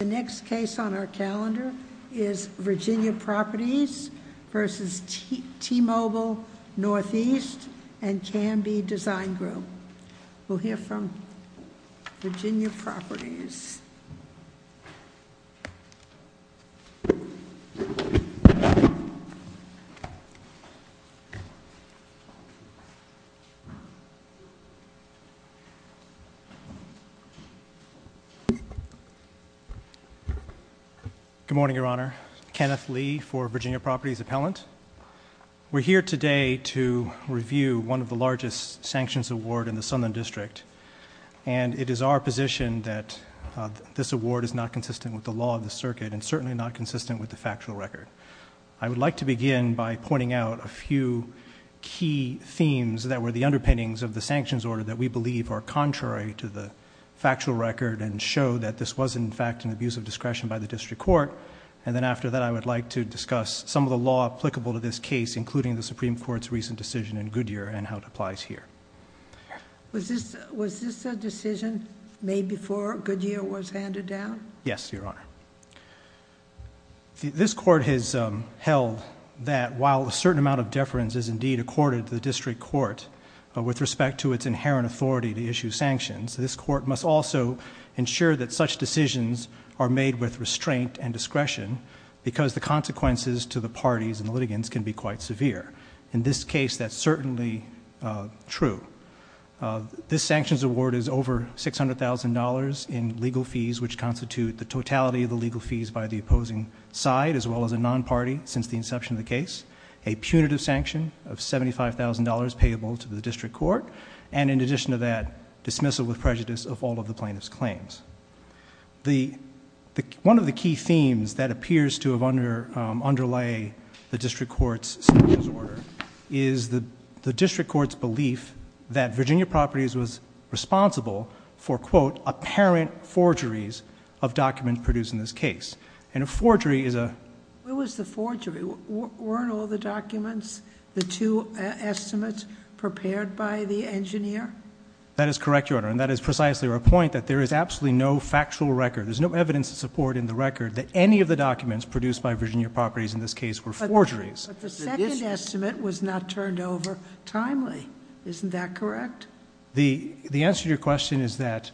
The next case on our calendar is Virginia Properties v. T-Mobile NE and Canby Design Group. We'll hear from Virginia Properties. Good morning, Your Honor. Kenneth Lee for Virginia Properties Appellant. We're here today to review one of the largest sanctions awards in the Sutherland District. And it is our position that this award is not consistent with the law of the circuit and certainly not consistent with the factual record. I would like to begin by pointing out a few key themes that were the underpinnings of the sanctions order that we believe are contrary to the factual record and show that this was in fact an abuse of discretion by the district court. And then after that I would like to discuss some of the law applicable to this case including the Supreme Court's recent decision in Goodyear and how it applies here. Was this a decision made before Goodyear was handed down? Yes, Your Honor. This court has held that while a certain amount of deference is indeed accorded to the district court with respect to its inherent authority to issue sanctions, this court must also ensure that such decisions are made with restraint and discretion because the consequences to the parties and the litigants can be quite severe. In this case, that's certainly true. This sanctions award is over $600,000 in legal fees which constitute the totality of the legal fees by the opposing side as well as a non-party since the inception of the case, a punitive sanction of $75,000 payable to the district court, and in addition to that, dismissal with prejudice of all of the plaintiff's claims. One of the key themes that appears to underlay the district court's sanctions order is the district court's belief that Virginia Properties was responsible for quote, apparent forgeries of documents produced in this case. And a forgery is a... What was the forgery? Weren't all the documents, the two estimates prepared by the engineer? That is correct, Your Honor, and that is precisely our point that there is absolutely no factual record. There's no evidence to support in the record that any of the documents produced by Virginia Properties in this case were forgeries. But the second estimate was not turned over timely. Isn't that correct? The answer to your question is that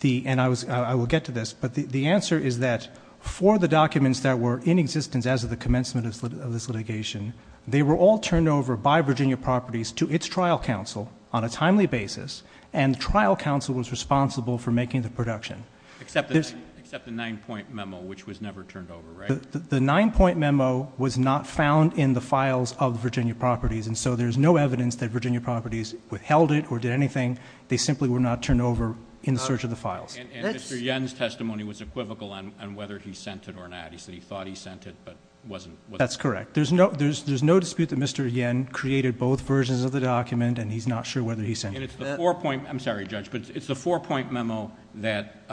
the, and I will get to this, but the answer is that for the documents that were in existence as of the commencement of this litigation, they were all turned over by Virginia Properties to its trial counsel on a timely basis, and the trial counsel was responsible for making the production. Except the 9-point memo, which was never turned over, right? The 9-point memo was not found in the files of Virginia Properties, and so there's no evidence that Virginia Properties withheld it or did anything. They simply were not turned over in the search of the files. And Mr. Yen's testimony was equivocal on whether he sent it or not. He said he thought he sent it, but wasn't. That's correct. There's no dispute that Mr. Yen created both versions of the document, and he's not sure whether he sent it. I'm sorry, Judge, but it's the 4-point memo that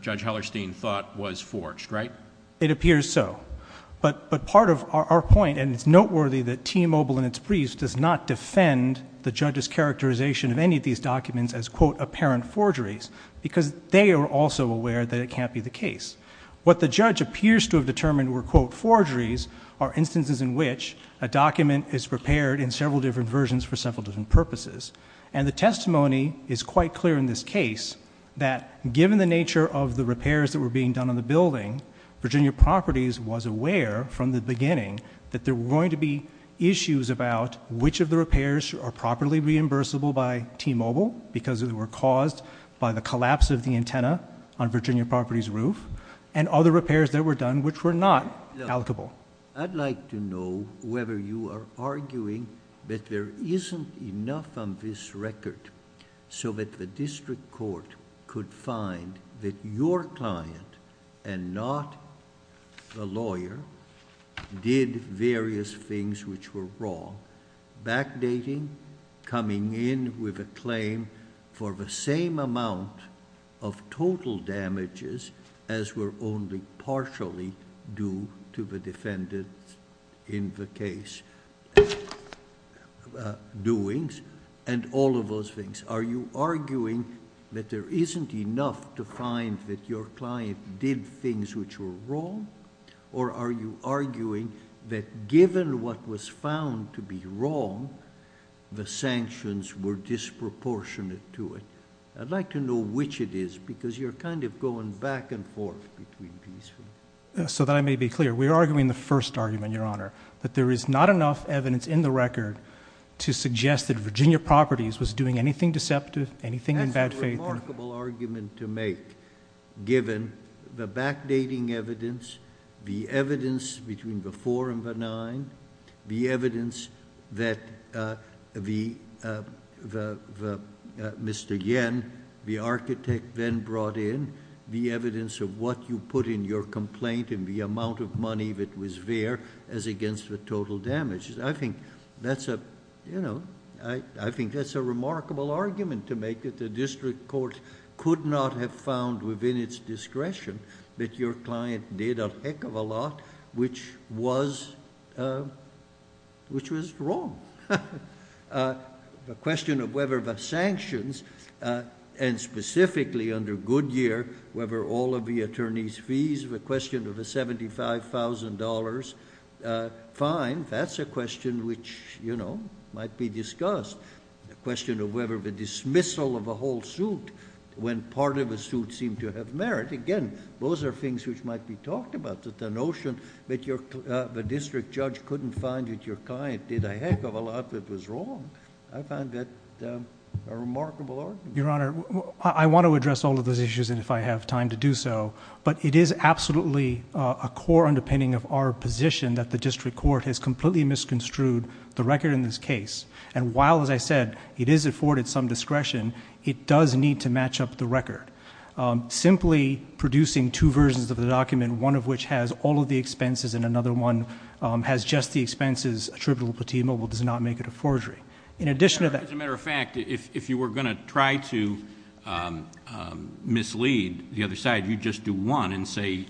Judge Hellerstein thought was forged, right? It appears so, but part of our point, and it's noteworthy that T-Mobile and its briefs does not defend the judge's characterization of any of these documents as, quote, apparent forgeries, because they are also aware that it can't be the case. What the judge appears to have determined were, quote, forgeries are instances in which a document is repaired in several different versions for several different purposes. And the testimony is quite clear in this case that given the nature of the repairs that were being done on the building, Virginia Properties was aware from the beginning that there were going to be issues about which of the repairs were properly reimbursable by T-Mobile, because they were caused by the collapse of the antenna on Virginia Properties' roof, and other repairs that were done which were not allocable. I'd like to know whether you are arguing that there isn't enough on this record so that the district court could find that your client and not the lawyer did various things which were wrong, backdating, coming in with a claim for the same amount of total damages as were only partially due to the defendant's in the case doings, and all of those things. Are you arguing that there isn't enough to find that your client did things which were wrong, or are you arguing that given what was found to be wrong, the sanctions were disproportionate to it? I'd like to know which it is, because you're kind of going back and forth between these things. So that I may be clear, we are arguing the first argument, Your Honor, that there is not enough evidence in the record to suggest that Virginia Properties was doing anything deceptive, anything in bad faith. It's a remarkable argument to make, given the backdating evidence, the evidence between the four and the nine, the evidence that Mr. Yen, the architect, then brought in, the evidence of what you put in your complaint and the amount of money that was there as against the total damages. I think that's a remarkable argument to make that the district court could not have found within its discretion that your client did a heck of a lot which was wrong. The question of whether the sanctions, and specifically under Goodyear, whether all of the attorneys' fees, the question of the $75,000, fine. That's a question which might be discussed. The question of whether the dismissal of a whole suit when part of a suit seemed to have merit. Again, those are things which might be talked about, that the notion that the district judge couldn't find that your client did a heck of a lot that was wrong. I find that a remarkable argument. Your Honor, I want to address all of those issues if I have time to do so, but it is absolutely a core underpinning of our position that the district court has completely misconstrued the record in this case. And while, as I said, it is afforded some discretion, it does need to match up the record. Simply producing two versions of the document, one of which has all of the expenses and another one has just the expenses attributable to T-Mobile does not make it a forgery. As a matter of fact, if you were going to try to mislead the other side, you'd just do one and say,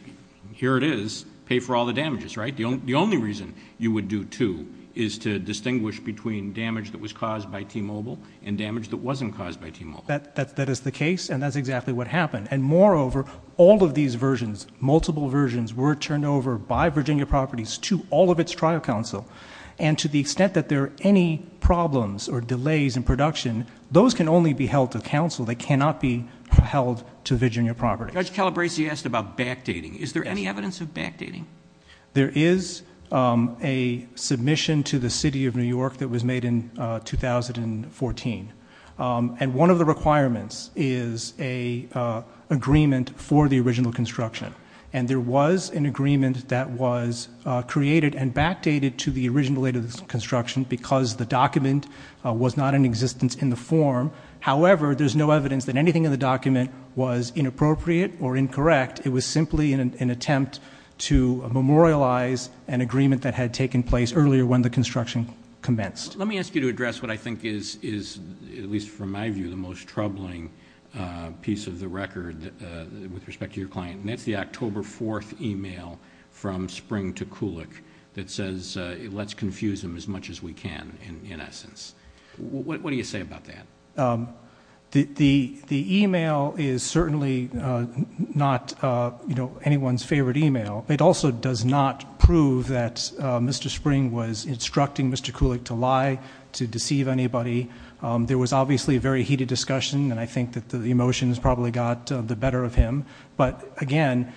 here it is, pay for all the damages, right? The only reason you would do two is to distinguish between damage that was caused by T-Mobile and damage that wasn't caused by T-Mobile. That is the case, and that's exactly what happened. Moreover, all of these versions, multiple versions, were turned over by Virginia Properties to all of its trial counsel, and to the extent that there are any problems or delays in production, those can only be held to counsel. They cannot be held to Virginia Properties. Judge Calabresi asked about backdating. Is there any evidence of backdating? There is a submission to the City of New York that was made in 2014, and one of the requirements is an agreement for the original construction, and there was an agreement that was created and backdated to the original date of construction because the document was not in existence in the form. However, there's no evidence that anything in the document was inappropriate or incorrect. In fact, it was simply an attempt to memorialize an agreement that had taken place earlier when the construction commenced. Let me ask you to address what I think is, at least from my view, the most troubling piece of the record with respect to your client, and that's the October 4th email from Spring to Kulik that says, let's confuse them as much as we can, in essence. What do you say about that? The email is certainly not anyone's favorite email. It also does not prove that Mr. Spring was instructing Mr. Kulik to lie, to deceive anybody. There was obviously a very heated discussion, and I think that the emotions probably got the better of him, but again,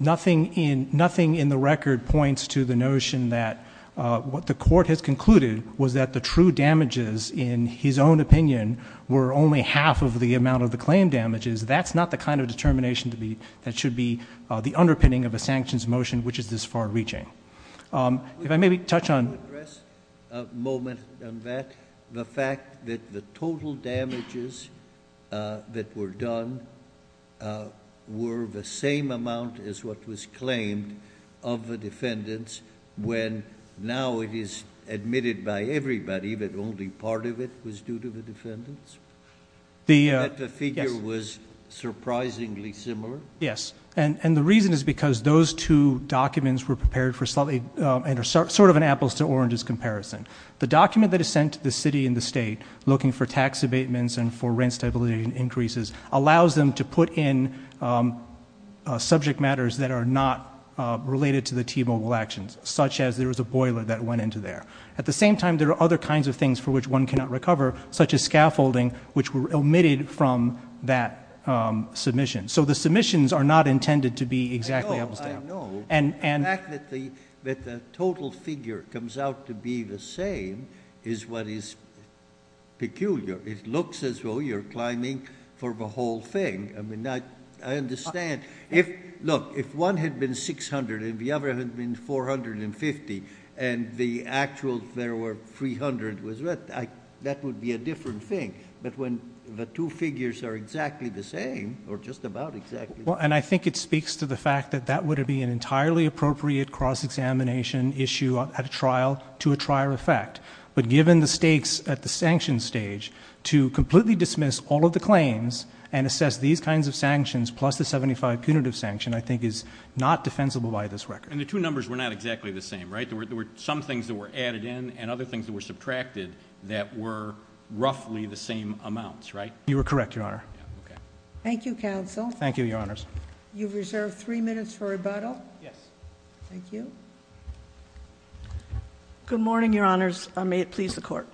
nothing in the record points to the notion that what the court has concluded was that the true damages, in his own opinion, were only half of the amount of the claim damages. That's not the kind of determination that should be the underpinning of a sanctions motion which is this far reaching. If I may touch on... Can I address a moment on that? The fact that the total damages that were done were the same amount as what was claimed of the defendants when now it is admitted by everybody that only part of it was due to the defendants? That the figure was surprisingly similar? Yes, and the reason is because those two documents were prepared for sort of an apples to oranges comparison. The document that is sent to the city and the state looking for tax abatements and for rent stability increases allows them to put in subject matters that are not related to the T-Mobile actions, such as there was a boiler that went into there. At the same time, there are other kinds of things for which one cannot recover, such as scaffolding, which were omitted from that submission. So the submissions are not intended to be exactly apples to apples. I know. The fact that the total figure comes out to be the same is what is peculiar. It looks as though you're climbing for the whole thing. I mean, I understand. Look, if one had been 600 and the other had been 450 and the actual there were 300, that would be a different thing. But when the two figures are exactly the same or just about exactly the same. And I think it speaks to the fact that that would be an entirely appropriate cross-examination issue at a trial to a trial effect. But given the stakes at the sanction stage, to completely dismiss all of the claims and assess these kinds of sanctions plus the 75 punitive sanction, I think is not defensible by this record. And the two numbers were not exactly the same, right? There were some things that were added in and other things that were subtracted that were roughly the same amounts, right? You are correct, Your Honor. Thank you, counsel. Thank you, Your Honors. You've reserved three minutes for rebuttal. Yes. Thank you. Good morning, Your Honors. May it please the Court.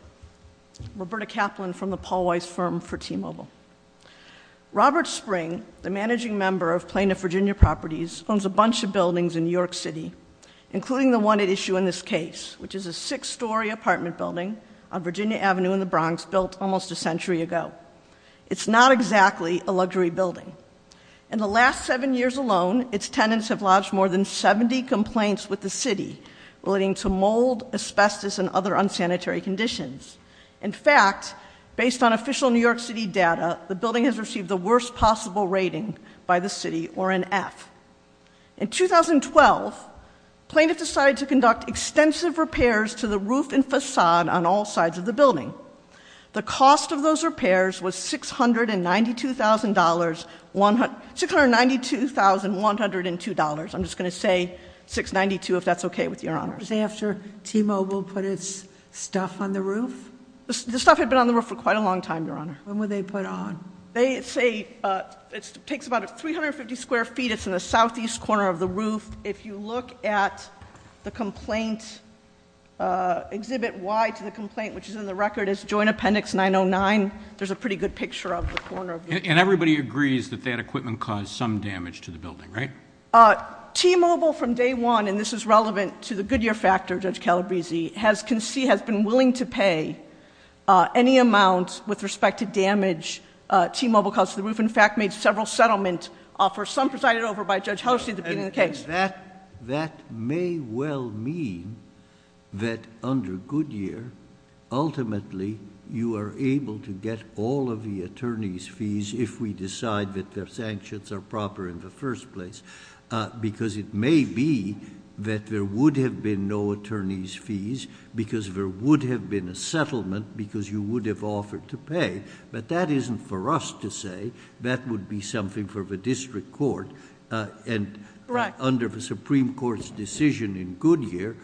Roberta Kaplan from the Paul Weiss Firm for T-Mobile. Robert Spring, the managing member of Plano Virginia Properties, owns a bunch of buildings in New York City, including the one at issue in this case, which is a six-story apartment building on Virginia Avenue in the Bronx built almost a century ago. It's not exactly a luxury building. In the last seven years alone, its tenants have lodged more than 70 complaints with the city relating to mold, asbestos, and other unsanitary conditions. In fact, based on official New York City data, the building has received the worst possible rating by the city, or an F. In 2012, Plano decided to conduct extensive repairs to the roof and facade on all sides of the building. The cost of those repairs was $692,102. I'm just going to say $692 if that's okay with you, Your Honors. Was it after T-Mobile put its stuff on the roof? The stuff had been on the roof for quite a long time, Your Honor. When were they put on? They say it takes about 350 square feet. It's in the southeast corner of the roof. If you look at the complaint, Exhibit Y to the complaint, which is in the record, is Joint Appendix 909. There's a pretty good picture of the corner of the building. Everybody agrees that that equipment caused some damage to the building, right? T-Mobile from day one, and this is relevant to the Goodyear factor, Judge Calabresi, has been willing to pay any amount with respect to damage T-Mobile caused to the roof. In fact, made several settlement offers, some presided over by Judge Helsey at the beginning of the case. That may well mean that under Goodyear, ultimately, you are able to get all of the attorney's fees if we decide that their sanctions are proper in the first place because it may be that there would have been no attorney's fees because there would have been a settlement because you would have offered to pay, but that isn't for us to say. That would be something for the district court, and under the Supreme Court's decision in Goodyear,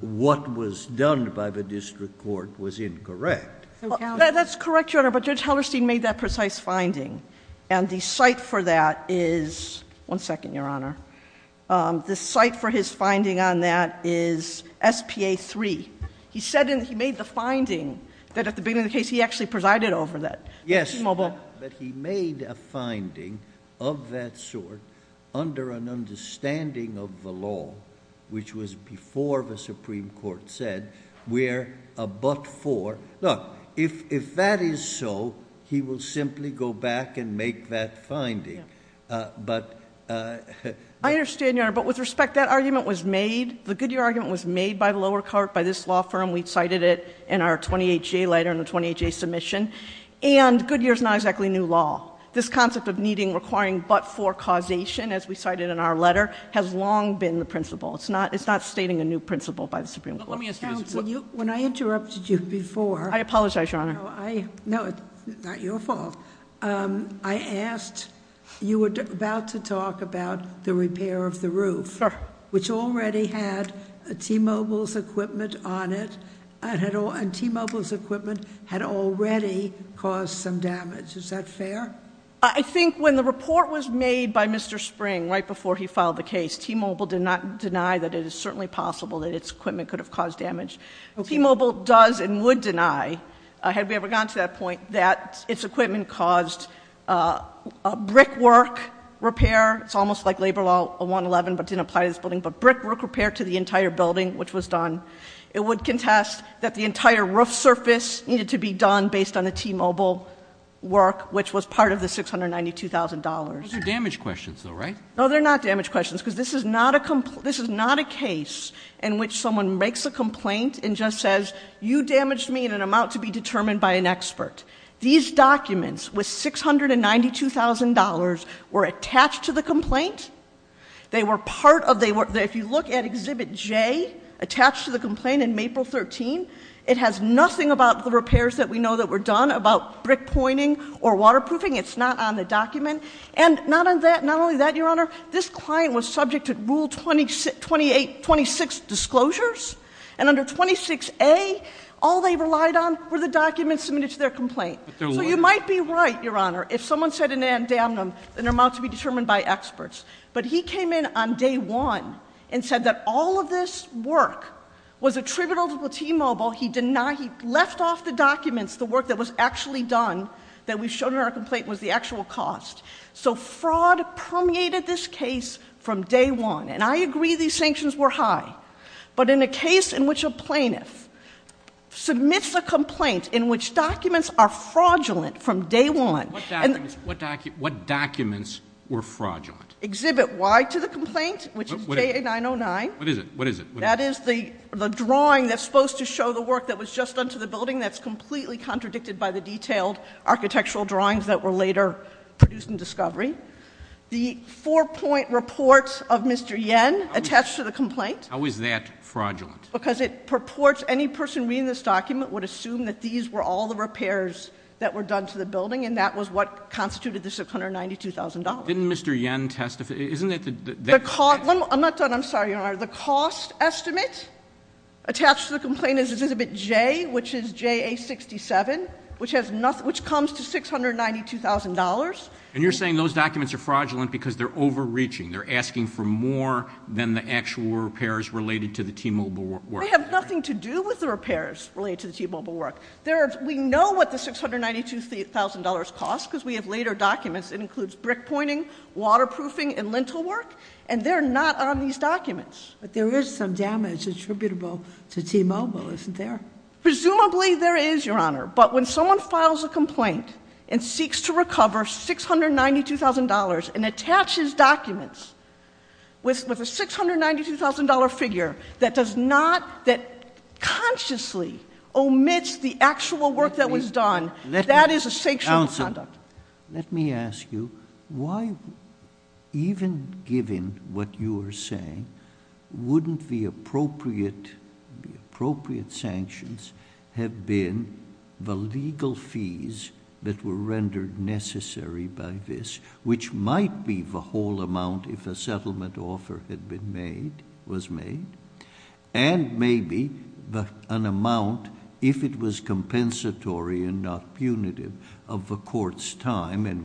what was done by the district court was incorrect. That's correct, Your Honor, but Judge Hellerstein made that precise finding, and the site for that is, one second, Your Honor, the site for his finding on that is S.P.A. 3. He said he made the finding that at the beginning of the case, he actually presided over that. Yes, but he made a finding of that sort under an understanding of the law, which was before the Supreme Court said, where a but for... Look, if that is so, he will simply go back and make that finding, but... I understand, Your Honor, but with respect, that argument was made, the Goodyear argument was made by the lower court, by this law firm. We cited it in our 20HA letter, in the 20HA submission, and Goodyear is not exactly new law. This concept of needing requiring but for causation, as we cited in our letter, has long been the principle. It's not stating a new principle by the Supreme Court. Let me ask you... Counsel, when I interrupted you before... I apologize, Your Honor. No, it's not your fault. I asked... you were about to talk about the repair of the roof, which already had T-Mobile's equipment on it, and T-Mobile's equipment had already caused some damage. Is that fair? I think when the report was made by Mr. Spring, right before he filed the case, T-Mobile did not deny that it is certainly possible that its equipment could have caused damage. T-Mobile does and would deny, had we ever gotten to that point, that its equipment caused a brickwork repair. It's almost like labor law 111, but didn't apply to this building, but brickwork repair to the entire building, which was done. It would contest that the entire roof surface needed to be done based on the T-Mobile work, which was part of the $692,000. Those are damage questions, though, right? No, they're not damage questions, because this is not a case in which someone makes a complaint and just says, you damaged me in an amount to be determined by an expert. These documents with $692,000 were attached to the complaint. They were part of... if you look at Exhibit J, attached to the complaint in April 13, it has nothing about the repairs that we know that were done about brick pointing or waterproofing. It's not on the document. And not only that, Your Honor, this client was subject to Rule 26 disclosures. And under 26A, all they relied on were the documents submitted to their complaint. So you might be right, Your Honor, if someone said in an amount to be determined by experts. But he came in on day one and said that all of this work was attributable to T-Mobile. He denied... he left off the documents, the work that was actually done, that we showed in our complaint was the actual cost. So fraud permeated this case from day one. And I agree these sanctions were high. But in a case in which a plaintiff submits a complaint in which documents are fraudulent from day one... What documents were fraudulent? Exhibit Y to the complaint, which is JA-909. What is it? That is the drawing that's supposed to show the work that was just done to the building. That's completely contradicted by the detailed architectural drawings that were later produced in discovery. The four-point report of Mr. Yen attached to the complaint... How is that fraudulent? Because it purports any person reading this document would assume that these were all the repairs that were done to the building. And that was what constituted the $692,000. Didn't Mr. Yen testify? Isn't that the... I'm not done. I'm sorry, Your Honor. The cost estimate attached to the complaint is exhibit J, which is JA-67, which comes to $692,000. And you're saying those documents are fraudulent because they're overreaching. They're asking for more than the actual repairs related to the T-Mobile work. They have nothing to do with the repairs related to the T-Mobile work. We know what the $692,000 costs, because we have later documents. It includes brick pointing, waterproofing, and lintel work. And they're not on these documents. But there is some damage attributable to T-Mobile, isn't there? Presumably there is, Your Honor. But when someone files a complaint and seeks to recover $692,000 and attaches documents with a $692,000 figure that does not... that consciously omits the actual work that was done, that is a sanctioned conduct. Let me ask you, why, even given what you are saying, wouldn't the appropriate sanctions have been the legal fees that were rendered necessary by this... and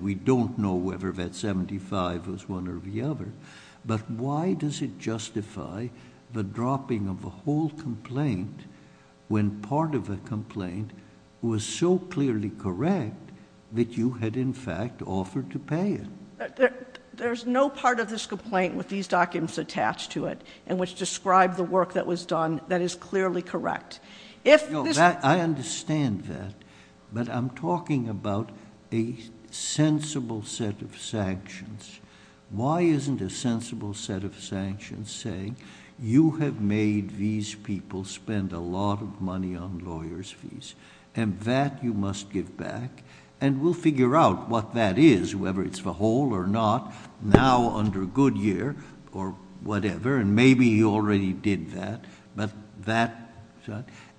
we don't know whether that $75,000 was one or the other. But, why does it justify the dropping of the whole complaint when part of the complaint was so clearly correct that you had, in fact, offered to pay it? There's no part of this complaint with these documents attached to it, in which described the work that was done, that is clearly correct. If this... I understand that, but I'm talking about a sensible set of sanctions. Why isn't a sensible set of sanctions saying, you have made these people spend a lot of money on lawyers' fees, and that you must give back? And we'll figure out what that is, whether it's the whole or not, now under Goodyear or whatever, and maybe you already did that. But that...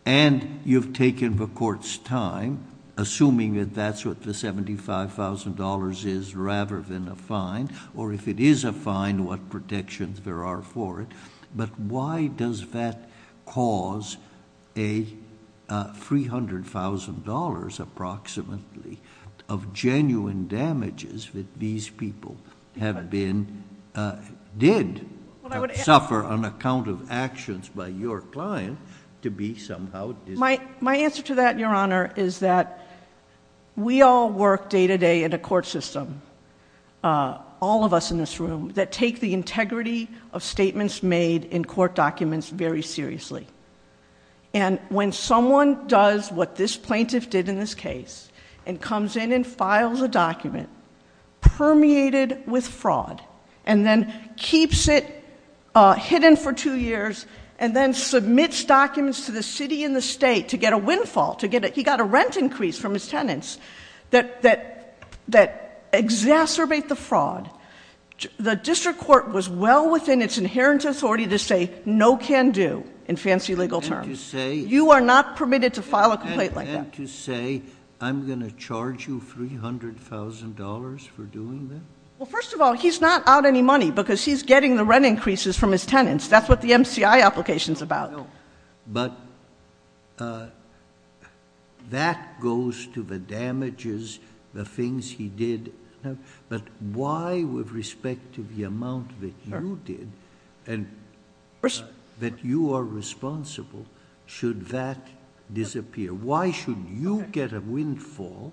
and you've taken the court's time, assuming that that's what the $75,000 is rather than a fine, or if it is a fine, what protections there are for it. But, why does that cause a $300,000 approximately of genuine damages that these people have been... did suffer on account of actions by your client to be somehow... And, when someone does what this plaintiff did in this case, and comes in and files a document permeated with fraud, and then keeps it hidden for two years, and then submits documents to the city and the state to get a windfall, to get a... He got a rent increase from his tenants that exacerbate the fraud. The district court was well within its inherent authority to say, no can do, in fancy legal terms. And to say... You are not permitted to file a complaint like that. And to say, I'm going to charge you $300,000 for doing that? Well, first of all, he's not out any money, because he's getting the rent increases from his tenants. That's what the MCI application is about. But, that goes to the damages, the things he did. But, why with respect to the amount that you did, and that you are responsible, should that disappear? Why shouldn't you get a windfall?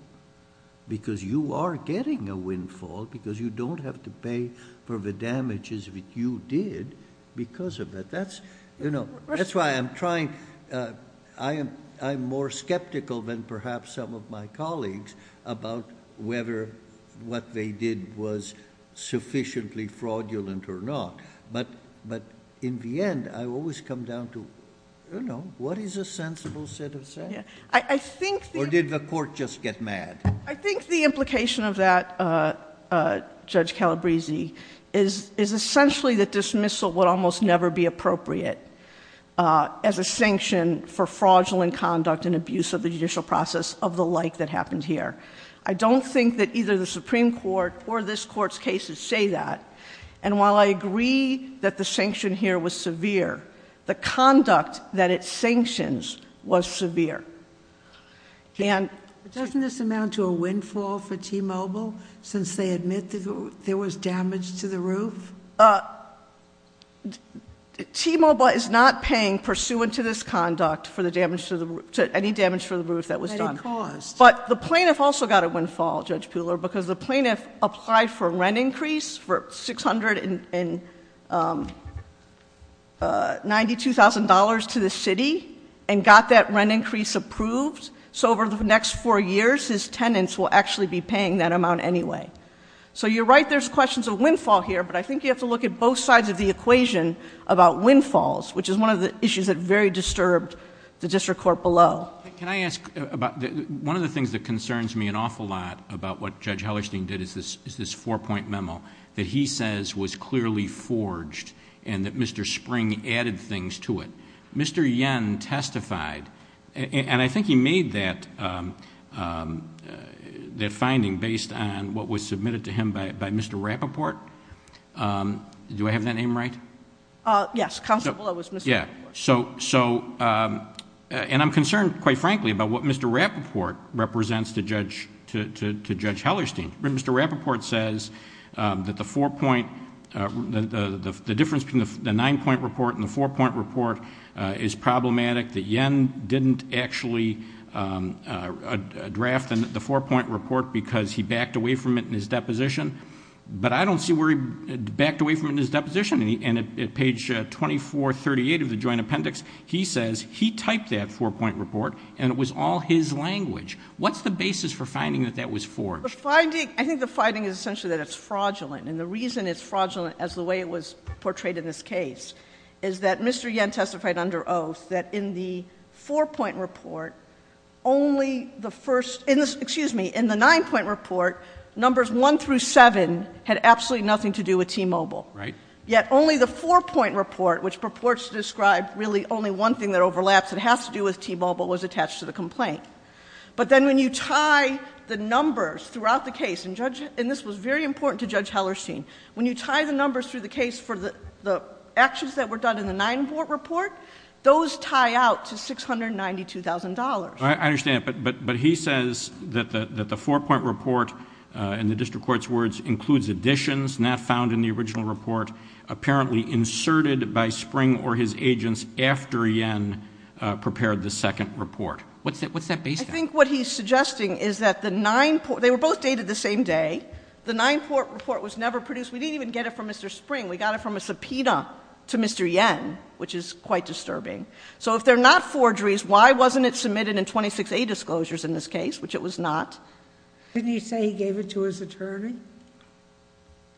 Because you are getting a windfall, because you don't have to pay for the damages that you did, because of it. That's why I'm trying... I'm more skeptical than perhaps some of my colleagues about whether what they did was sufficiently fraudulent or not. But, in the end, I always come down to, you know, what is a sensible set of... I think... Or did the court just get mad? I think the implication of that, Judge Calabresi, is essentially that dismissal would almost never be appropriate... as a sanction for fraudulent conduct and abuse of the judicial process of the like that happened here. I don't think that either the Supreme Court or this Court's cases say that. And, while I agree that the sanction here was severe, the conduct that it sanctions was severe. And... Doesn't this amount to a windfall for T-Mobile, since they admit that there was damage to the roof? T-Mobile is not paying, pursuant to this conduct, for any damage to the roof that was done. But it caused. But the plaintiff also got a windfall, Judge Pooler, because the plaintiff applied for a rent increase for $692,000 to the city... and got that rent increase approved. So, over the next four years, his tenants will actually be paying that amount anyway. So, you're right, there's questions of windfall here. But, I think you have to look at both sides of the equation about windfalls... which is one of the issues that very disturbed the District Court below. Can I ask about... One of the things that concerns me an awful lot about what Judge Hellerstein did is this four-point memo... that he says was clearly forged and that Mr. Spring added things to it. Mr. Yen testified. And, I think he made that finding based on what was submitted to him by Mr. Rapoport. Do I have that name right? Yes, Counselor Bellow was Mr. Rapoport. Yeah. So, and I'm concerned, quite frankly, about what Mr. Rapoport represents to Judge Hellerstein. Mr. Rapoport says that the four-point... the difference between the nine-point report and the four-point report is problematic. That Yen didn't actually draft the four-point report because he backed away from it in his deposition. But, I don't see where he backed away from it in his deposition. And, at page 2438 of the Joint Appendix, he says he typed that four-point report and it was all his language. What's the basis for finding that that was forged? The finding... I think the finding is essentially that it's fraudulent. And, the reason it's fraudulent as the way it was portrayed in this case is that Mr. Yen testified under oath that in the four-point report, only the first... excuse me, in the nine-point report, numbers one through seven had absolutely nothing to do with T-Mobile. Right. Yet, only the four-point report, which purports to describe really only one thing that overlaps and has to do with T-Mobile, was attached to the complaint. But then, when you tie the numbers throughout the case, and this was very important to Judge Hellerstein, when you tie the numbers through the case for the actions that were done in the nine-point report, those tie out to $692,000. I understand. But, he says that the four-point report, in the district court's words, includes additions not found in the original report, apparently inserted by Spring or his agents after Yen prepared the second report. What's that base value? I think what he's suggesting is that the nine... they were both dated the same day. The nine-point report was never produced. We didn't even get it from Mr. Spring. We got it from a subpoena to Mr. Yen, which is quite disturbing. So, if they're not forgeries, why wasn't it submitted in 26A disclosures in this case, which it was not? Didn't he say he gave it to his attorney?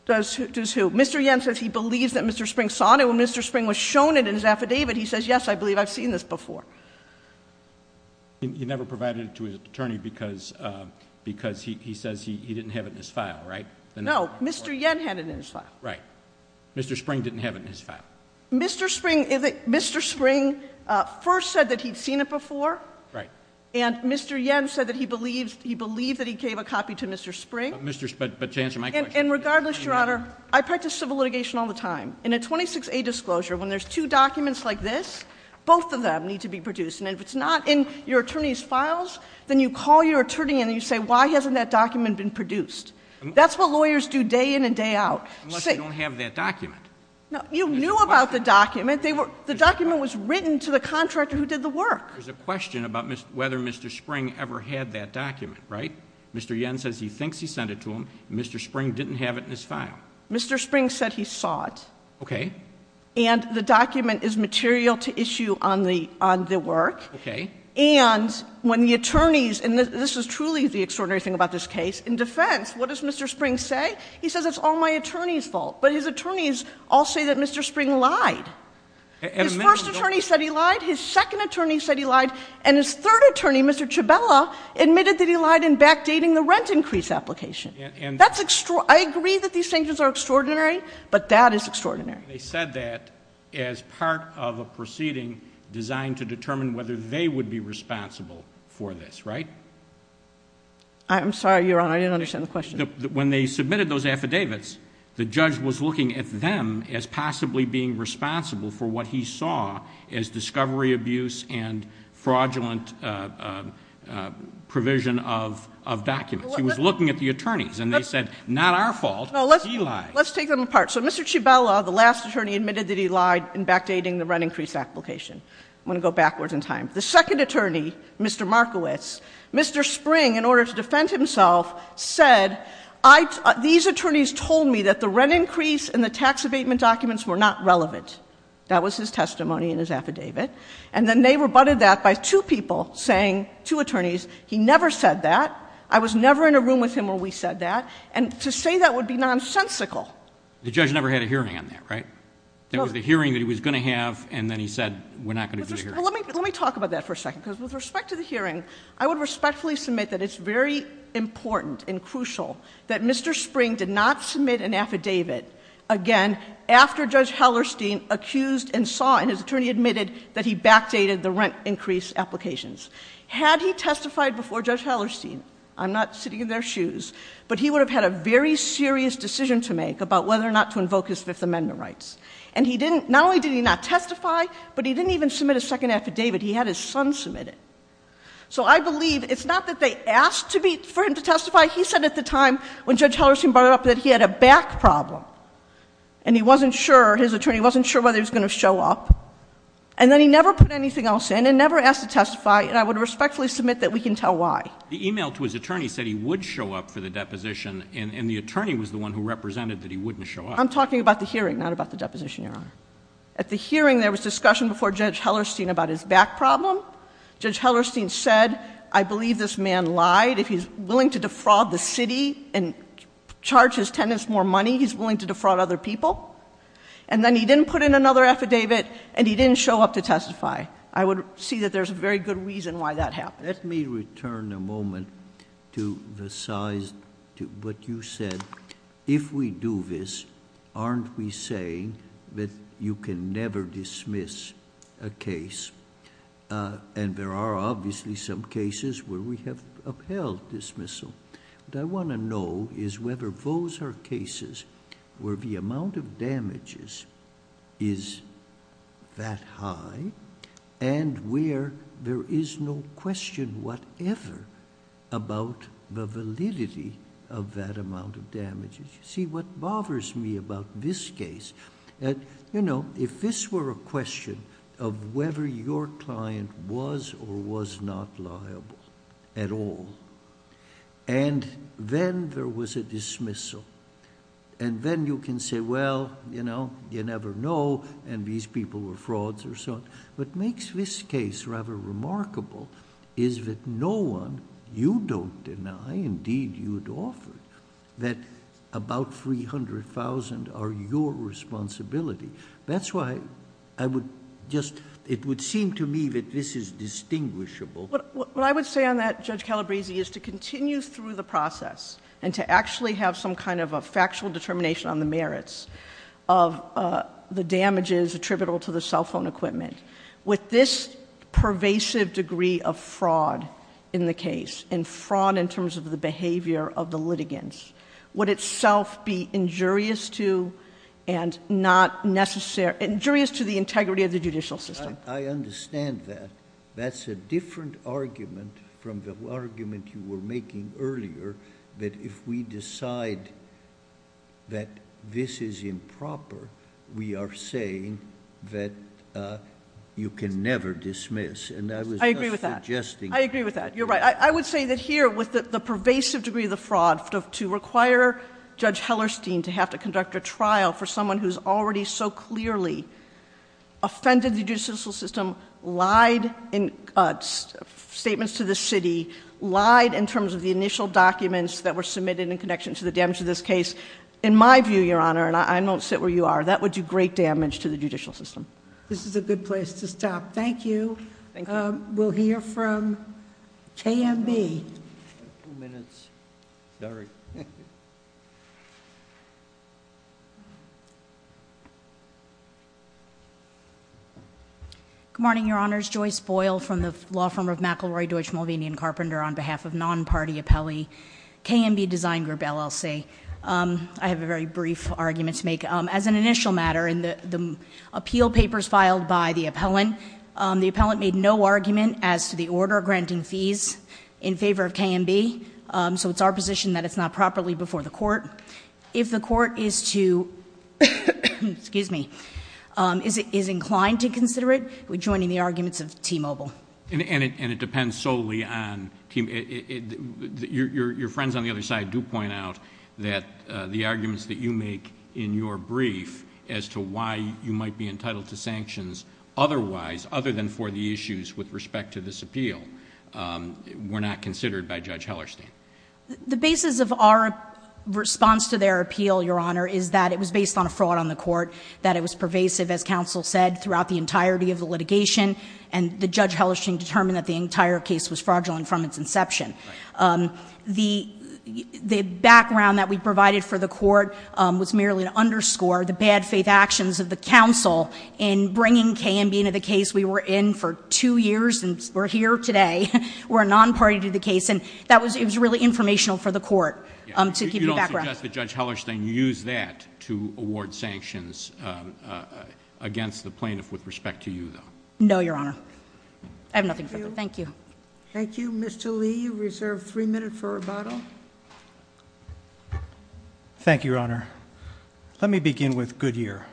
Does who? Mr. Yen says he believes that Mr. Spring saw it. When Mr. Spring was shown it in his affidavit, he says, yes, I believe I've seen this before. He never provided it to his attorney because he says he didn't have it in his file, right? No, Mr. Yen had it in his file. Right. Mr. Spring didn't have it in his file. Mr. Spring first said that he'd seen it before. Right. And, Mr. Yen said that he believed that he gave a copy to Mr. Spring. But, to answer my question... And, regardless, Your Honor, I practice civil litigation all the time. In a 26A disclosure, when there's two documents like this, both of them need to be produced. And, if it's not in your attorney's files, then you call your attorney and you say, why hasn't that document been produced? That's what lawyers do day in and day out. Unless they don't have that document. No, you knew about the document. The document was written to the contractor who did the work. There's a question about whether Mr. Spring ever had that document, right? Mr. Yen says he thinks he sent it to him. Mr. Spring didn't have it in his file. Mr. Spring said he saw it. Okay. And, the document is material to issue on the work. Okay. And, when the attorneys... and this is truly the extraordinary thing about this case. In defense, what does Mr. Spring say? He says, it's all my attorney's fault. But, his attorneys all say that Mr. Spring lied. His first attorney said he lied. His second attorney said he lied. And, his third attorney, Mr. Chabela, admitted that he lied in backdating the rent increase application. That's extraordinary. I agree that these sanctions are extraordinary. But, that is extraordinary. They said that as part of a proceeding designed to determine whether they would be responsible for this, right? I'm sorry, Your Honor. I didn't understand the question. When they submitted those affidavits, the judge was looking at them as possibly being responsible for what he saw as discovery abuse and fraudulent provision of documents. He was looking at the attorneys and they said, not our fault, he lied. Let's take them apart. So, Mr. Chabela, the last attorney, admitted that he lied in backdating the rent increase application. I'm going to go backwards in time. The second attorney, Mr. Markowitz, Mr. Spring, in order to defend himself, said, these attorneys told me that the rent increase and the tax abatement documents were not relevant. That was his testimony in his affidavit. And, then they rebutted that by two people saying, two attorneys, he never said that. I was never in a room with him where we said that. And, to say that would be nonsensical. The judge never had a hearing on that, right? No. There was a hearing that he was going to have and then he said, we're not going to do the hearing. Let me talk about that for a second. Because, with respect to the hearing, I would respectfully submit that it's very important and crucial that Mr. Spring did not submit an affidavit, again, after Judge Hellerstein accused and saw, and his attorney admitted, that he backdated the rent increase applications. Had he testified before Judge Hellerstein, I'm not sitting in their shoes, but he would have had a very serious decision to make about whether or not to invoke his Fifth Amendment rights. And, he didn't, not only did he not testify, but he didn't even submit a second affidavit. He had his son submit it. So, I believe, it's not that they asked for him to testify. He said at the time, when Judge Hellerstein brought it up, that he had a back problem. And, he wasn't sure, his attorney wasn't sure whether he was going to show up. And then, he never put anything else in, and never asked to testify, and I would respectfully submit that we can tell why. The email to his attorney said he would show up for the deposition, and the attorney was the one who represented that he wouldn't show up. I'm talking about the hearing, not about the deposition, Your Honor. At the hearing, there was discussion before Judge Hellerstein about his back problem. Judge Hellerstein said, I believe this man lied. If he's willing to defraud the city and charge his tenants more money, he's willing to defraud other people. And then, he didn't put in another affidavit, and he didn't show up to testify. I would see that there's a very good reason why that happened. Let me return a moment to the size, to what you said. If we do this, aren't we saying that you can never dismiss a case? And, there are obviously some cases where we have upheld dismissal. What I want to know is whether those are cases where the amount of damages is that high, and where there is no question whatever about the validity of that amount of damages. See, what bothers me about this case, if this were a question of whether your client was or was not liable at all, and then there was a dismissal, and then you can say, well, you know, you never know, and these people were frauds or so on. What makes this case rather remarkable is that no one, you don't deny, indeed you'd offer, that about $300,000 are your responsibility. That's why I would just, it would seem to me that this is distinguishable. What I would say on that, Judge Calabresi, is to continue through the process and to actually have some kind of a factual determination on the merits of the damages attributable to the cell phone equipment. With this pervasive degree of fraud in the case, and fraud in terms of the behavior of the litigants, would itself be injurious to and not necessary, injurious to the integrity of the judicial system? I understand that. That's a different argument from the argument you were making earlier, that if we decide that this is improper, we are saying that you can never dismiss. And I was just suggesting- I agree with that. I agree with that. You're right. I would say that here, with the pervasive degree of the fraud, to require Judge Hellerstein to have to conduct a trial for someone who's already so clearly offended the judicial system, lied in statements to the city, lied in terms of the initial documents that were submitted in connection to the damage of this case. In my view, Your Honor, and I don't sit where you are, that would do great damage to the judicial system. This is a good place to stop. Thank you. Thank you. We'll hear from KMB. Two minutes, sorry. Good morning, Your Honors. Joyce Boyle from the law firm of McIlroy, Deutsch, Mulvaney, and Carpenter on behalf of non-party appellee KMB Design Group, LLC. I have a very brief argument to make. As an initial matter, in the appeal papers filed by the appellant, the appellant made no argument as to the order granting fees in favor of KMB. So it's our position that it's not properly before the court. If the court is to, excuse me, is inclined to consider it, we're joining the arguments of T-Mobile. And it depends solely on, your friends on the other side do point out that the arguments that you make in your brief as to why you might be entitled to sanctions otherwise, other than for the issues with respect to this appeal, were not considered by Judge Hellerstein. The basis of our response to their appeal, Your Honor, is that it was based on a fraud on the court, that it was pervasive, as counsel said, throughout the entirety of the litigation, and that Judge Hellerstein determined that the entire case was fraudulent from its inception. The background that we provided for the court was merely to underscore the bad faith actions of the counsel in bringing KMB into the case we were in for two years, and we're here today. We're a non-party to the case, and it was really informational for the court to give you background. You don't suggest that Judge Hellerstein used that to award sanctions against the plaintiff with respect to you, though? No, Your Honor. I have nothing further. Thank you. Thank you. Mr. Lee, you're reserved three minutes for rebuttal. Thank you, Your Honor. Let me begin with Goodyear.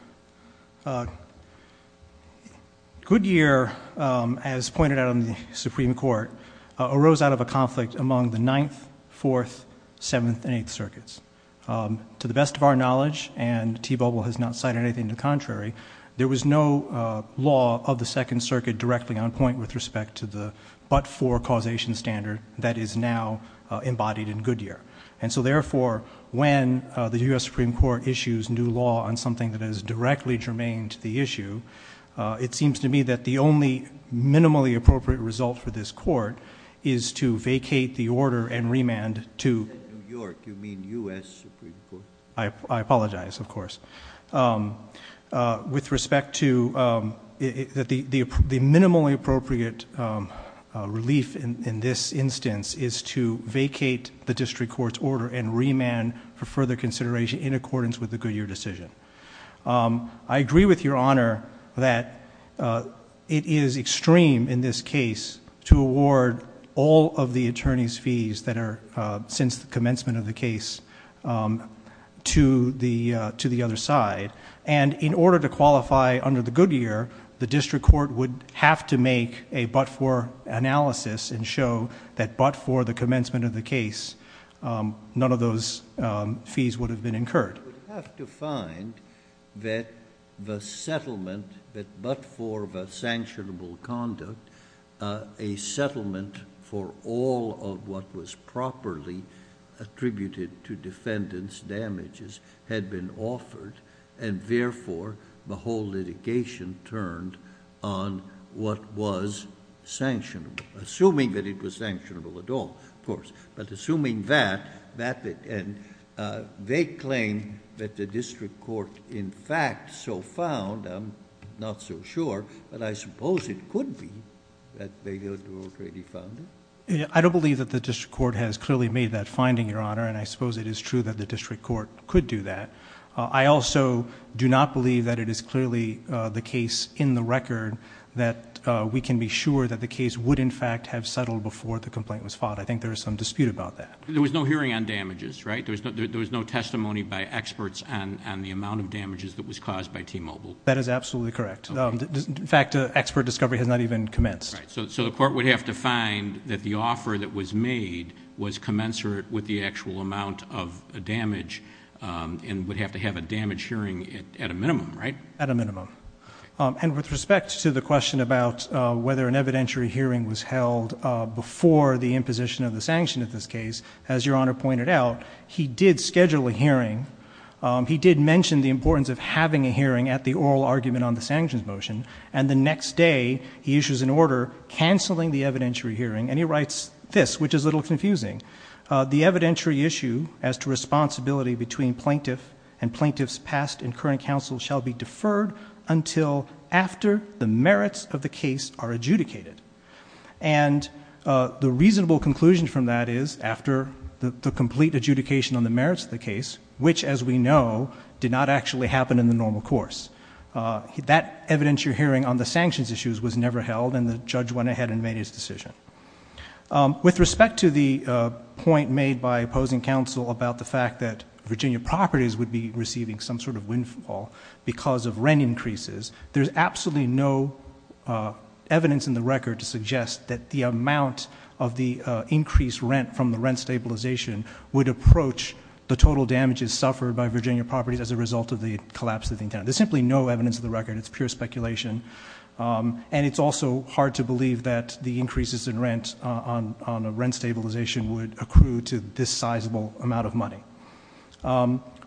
Goodyear, as pointed out in the Supreme Court, arose out of a conflict among the Ninth, Fourth, Seventh, and Eighth Circuits. To the best of our knowledge, and T. Bobel has not cited anything to the contrary, there was no law of the Second Circuit directly on point with respect to the but-for causation standard that is now embodied in Goodyear. And so, therefore, when the U.S. Supreme Court issues new law on something that is directly germane to the issue, it seems to me that the only minimally appropriate result for this court is to vacate the order and remand to... You said New York. You mean U.S. Supreme Court. I apologize, of course.... with respect to... the minimally appropriate relief in this instance is to vacate the district court's order and remand for further consideration in accordance with the Goodyear decision. I agree with Your Honor that it is extreme in this case to award all of the attorney's fees that are since the commencement of the case to the other side. And in order to qualify under the Goodyear, the district court would have to make a but-for analysis and show that but for the commencement of the case, none of those fees would have been incurred. The district court would have to find that the settlement that but for the sanctionable conduct, a settlement for all of what was properly attributed to defendants' damages had been offered and, therefore, the whole litigation turned on what was sanctionable, assuming that it was sanctionable at all, of course. But assuming that, they claim that the district court in fact so found, I'm not so sure, but I suppose it could be that they already found it. I don't believe that the district court has clearly made that finding, Your Honor, and I suppose it is true that the district court could do that. I also do not believe that it is clearly the case in the record that we can be sure that the case would, in fact, have settled before the complaint was filed. I think there is some dispute about that. There was no hearing on damages, right? There was no testimony by experts on the amount of damages that was caused by T-Mobile. That is absolutely correct. In fact, expert discovery has not even commenced. So the court would have to find that the offer that was made was commensurate with the actual amount of damage and would have to have a damage hearing at a minimum, right? At a minimum. And with respect to the question about whether an evidentiary hearing was held before the imposition of the sanction in this case, as Your Honor pointed out, he did schedule a hearing. He did mention the importance of having a hearing at the oral argument on the sanctions motion, and the next day he issues an order canceling the evidentiary hearing, and he writes this, which is a little confusing. The evidentiary issue as to responsibility between plaintiff and plaintiff's past and current counsel shall be deferred until after the merits of the case are adjudicated. And the reasonable conclusion from that is after the complete adjudication on the merits of the case, which, as we know, did not actually happen in the normal course. That evidentiary hearing on the sanctions issues was never held, and the judge went ahead and made his decision. With respect to the point made by opposing counsel about the fact that Virginia properties would be receiving some sort of windfall because of rent increases, there's absolutely no evidence in the record to suggest that the amount of the increased rent from the rent stabilization would approach the total damages suffered by Virginia properties as a result of the collapse of the internet. There's simply no evidence in the record. It's pure speculation. And it's also hard to believe that the increases in rent on the rent stabilization would accrue to this sizable amount of money.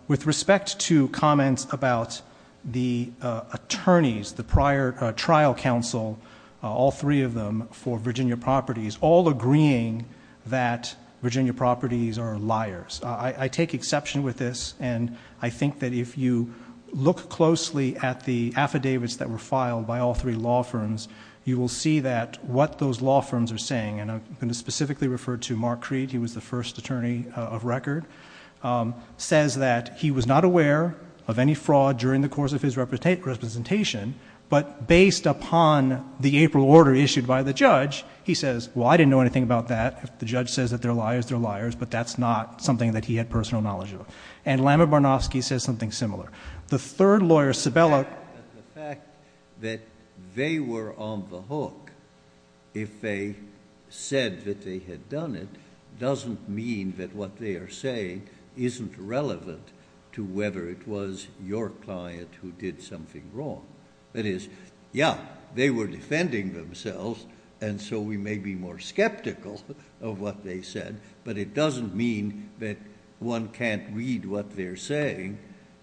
With respect to comments about the attorneys, the prior trial counsel, all three of them for Virginia properties, all agreeing that Virginia properties are liars. I take exception with this, and I think that if you look closely at the affidavits that were filed by all three law firms, you will see that what those law firms are saying, and I'm going to specifically refer to Mark Creed. He was the first attorney of record. Says that he was not aware of any fraud during the course of his representation, but based upon the April order issued by the judge, he says, well, I didn't know anything about that. The judge says that they're liars, they're liars, but that's not something that he had personal knowledge of. And Lama Barnofsky says something similar. The third lawyer, Cibella. The fact that they were on the hook, if they said that they had done it, doesn't mean that what they are saying isn't relevant to whether it was your client who did something wrong. That is, yeah, they were defending themselves, and so we may be more skeptical of what they said, but it doesn't mean that one can't read what they're saying,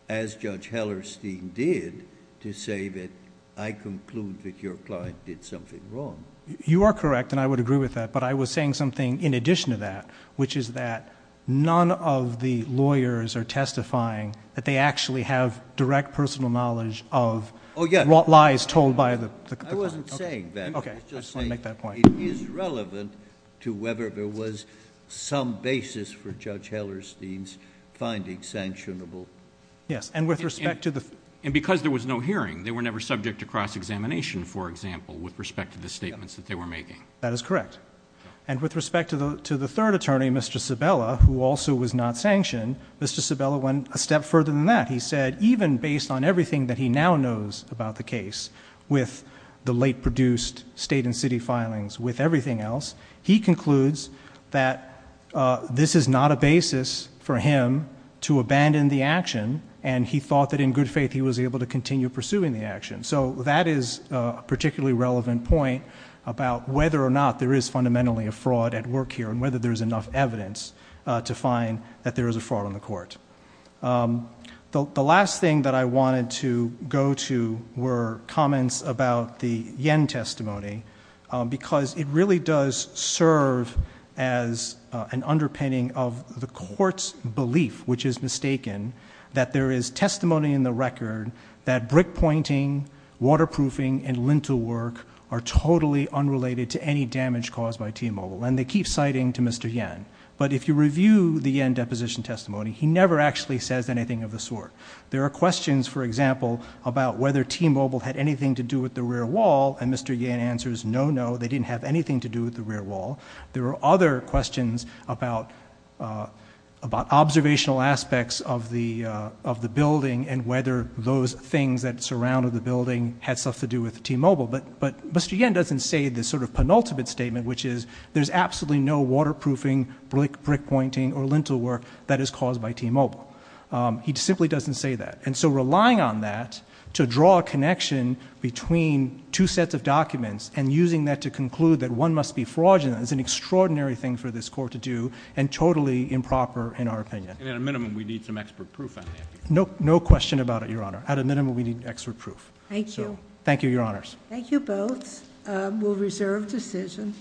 as Judge Hellerstein did, to say that I conclude that your client did something wrong. You are correct, and I would agree with that, but I was saying something in addition to that, which is that none of the lawyers are testifying that they actually have direct personal knowledge of what lies told by the client. I wasn't saying that. Okay. I just want to make that point. It is relevant to whether there was some basis for Judge Hellerstein's finding sanctionable. Yes, and with respect to the ---- And because there was no hearing, they were never subject to cross-examination, for example, with respect to the statements that they were making. That is correct. And with respect to the third attorney, Mr. Cibella, who also was not sanctioned, Mr. Cibella went a step further than that. He said even based on everything that he now knows about the case, with the late produced state and city filings, with everything else, he concludes that this is not a basis for him to abandon the action, and he thought that in good faith he was able to continue pursuing the action. So that is a particularly relevant point about whether or not there is fundamentally a fraud at work here and whether there is enough evidence to find that there is a fraud on the court. The last thing that I wanted to go to were comments about the Yen testimony, because it really does serve as an underpinning of the court's belief, which is mistaken, that there is testimony in the record that brick pointing, waterproofing, and lintel work are totally unrelated to any damage caused by T-Mobile, and they keep citing to Mr. Yen. But if you review the Yen deposition testimony, he never actually says anything of the sort. There are questions, for example, about whether T-Mobile had anything to do with the rear wall, and Mr. Yen answers no, no, they didn't have anything to do with the rear wall. There are other questions about observational aspects of the building and whether those things that surrounded the building had something to do with T-Mobile. But Mr. Yen doesn't say this sort of penultimate statement, which is there's absolutely no waterproofing, brick pointing, or lintel work that is caused by T-Mobile. He simply doesn't say that. And so relying on that to draw a connection between two sets of documents and using that to conclude that one must be fraudulent is an extraordinary thing for this court to do and totally improper in our opinion. And at a minimum we need some expert proof on that. No question about it, Your Honor. At a minimum we need expert proof. Thank you. Thank you, Your Honors. Thank you both. We'll reserve decision.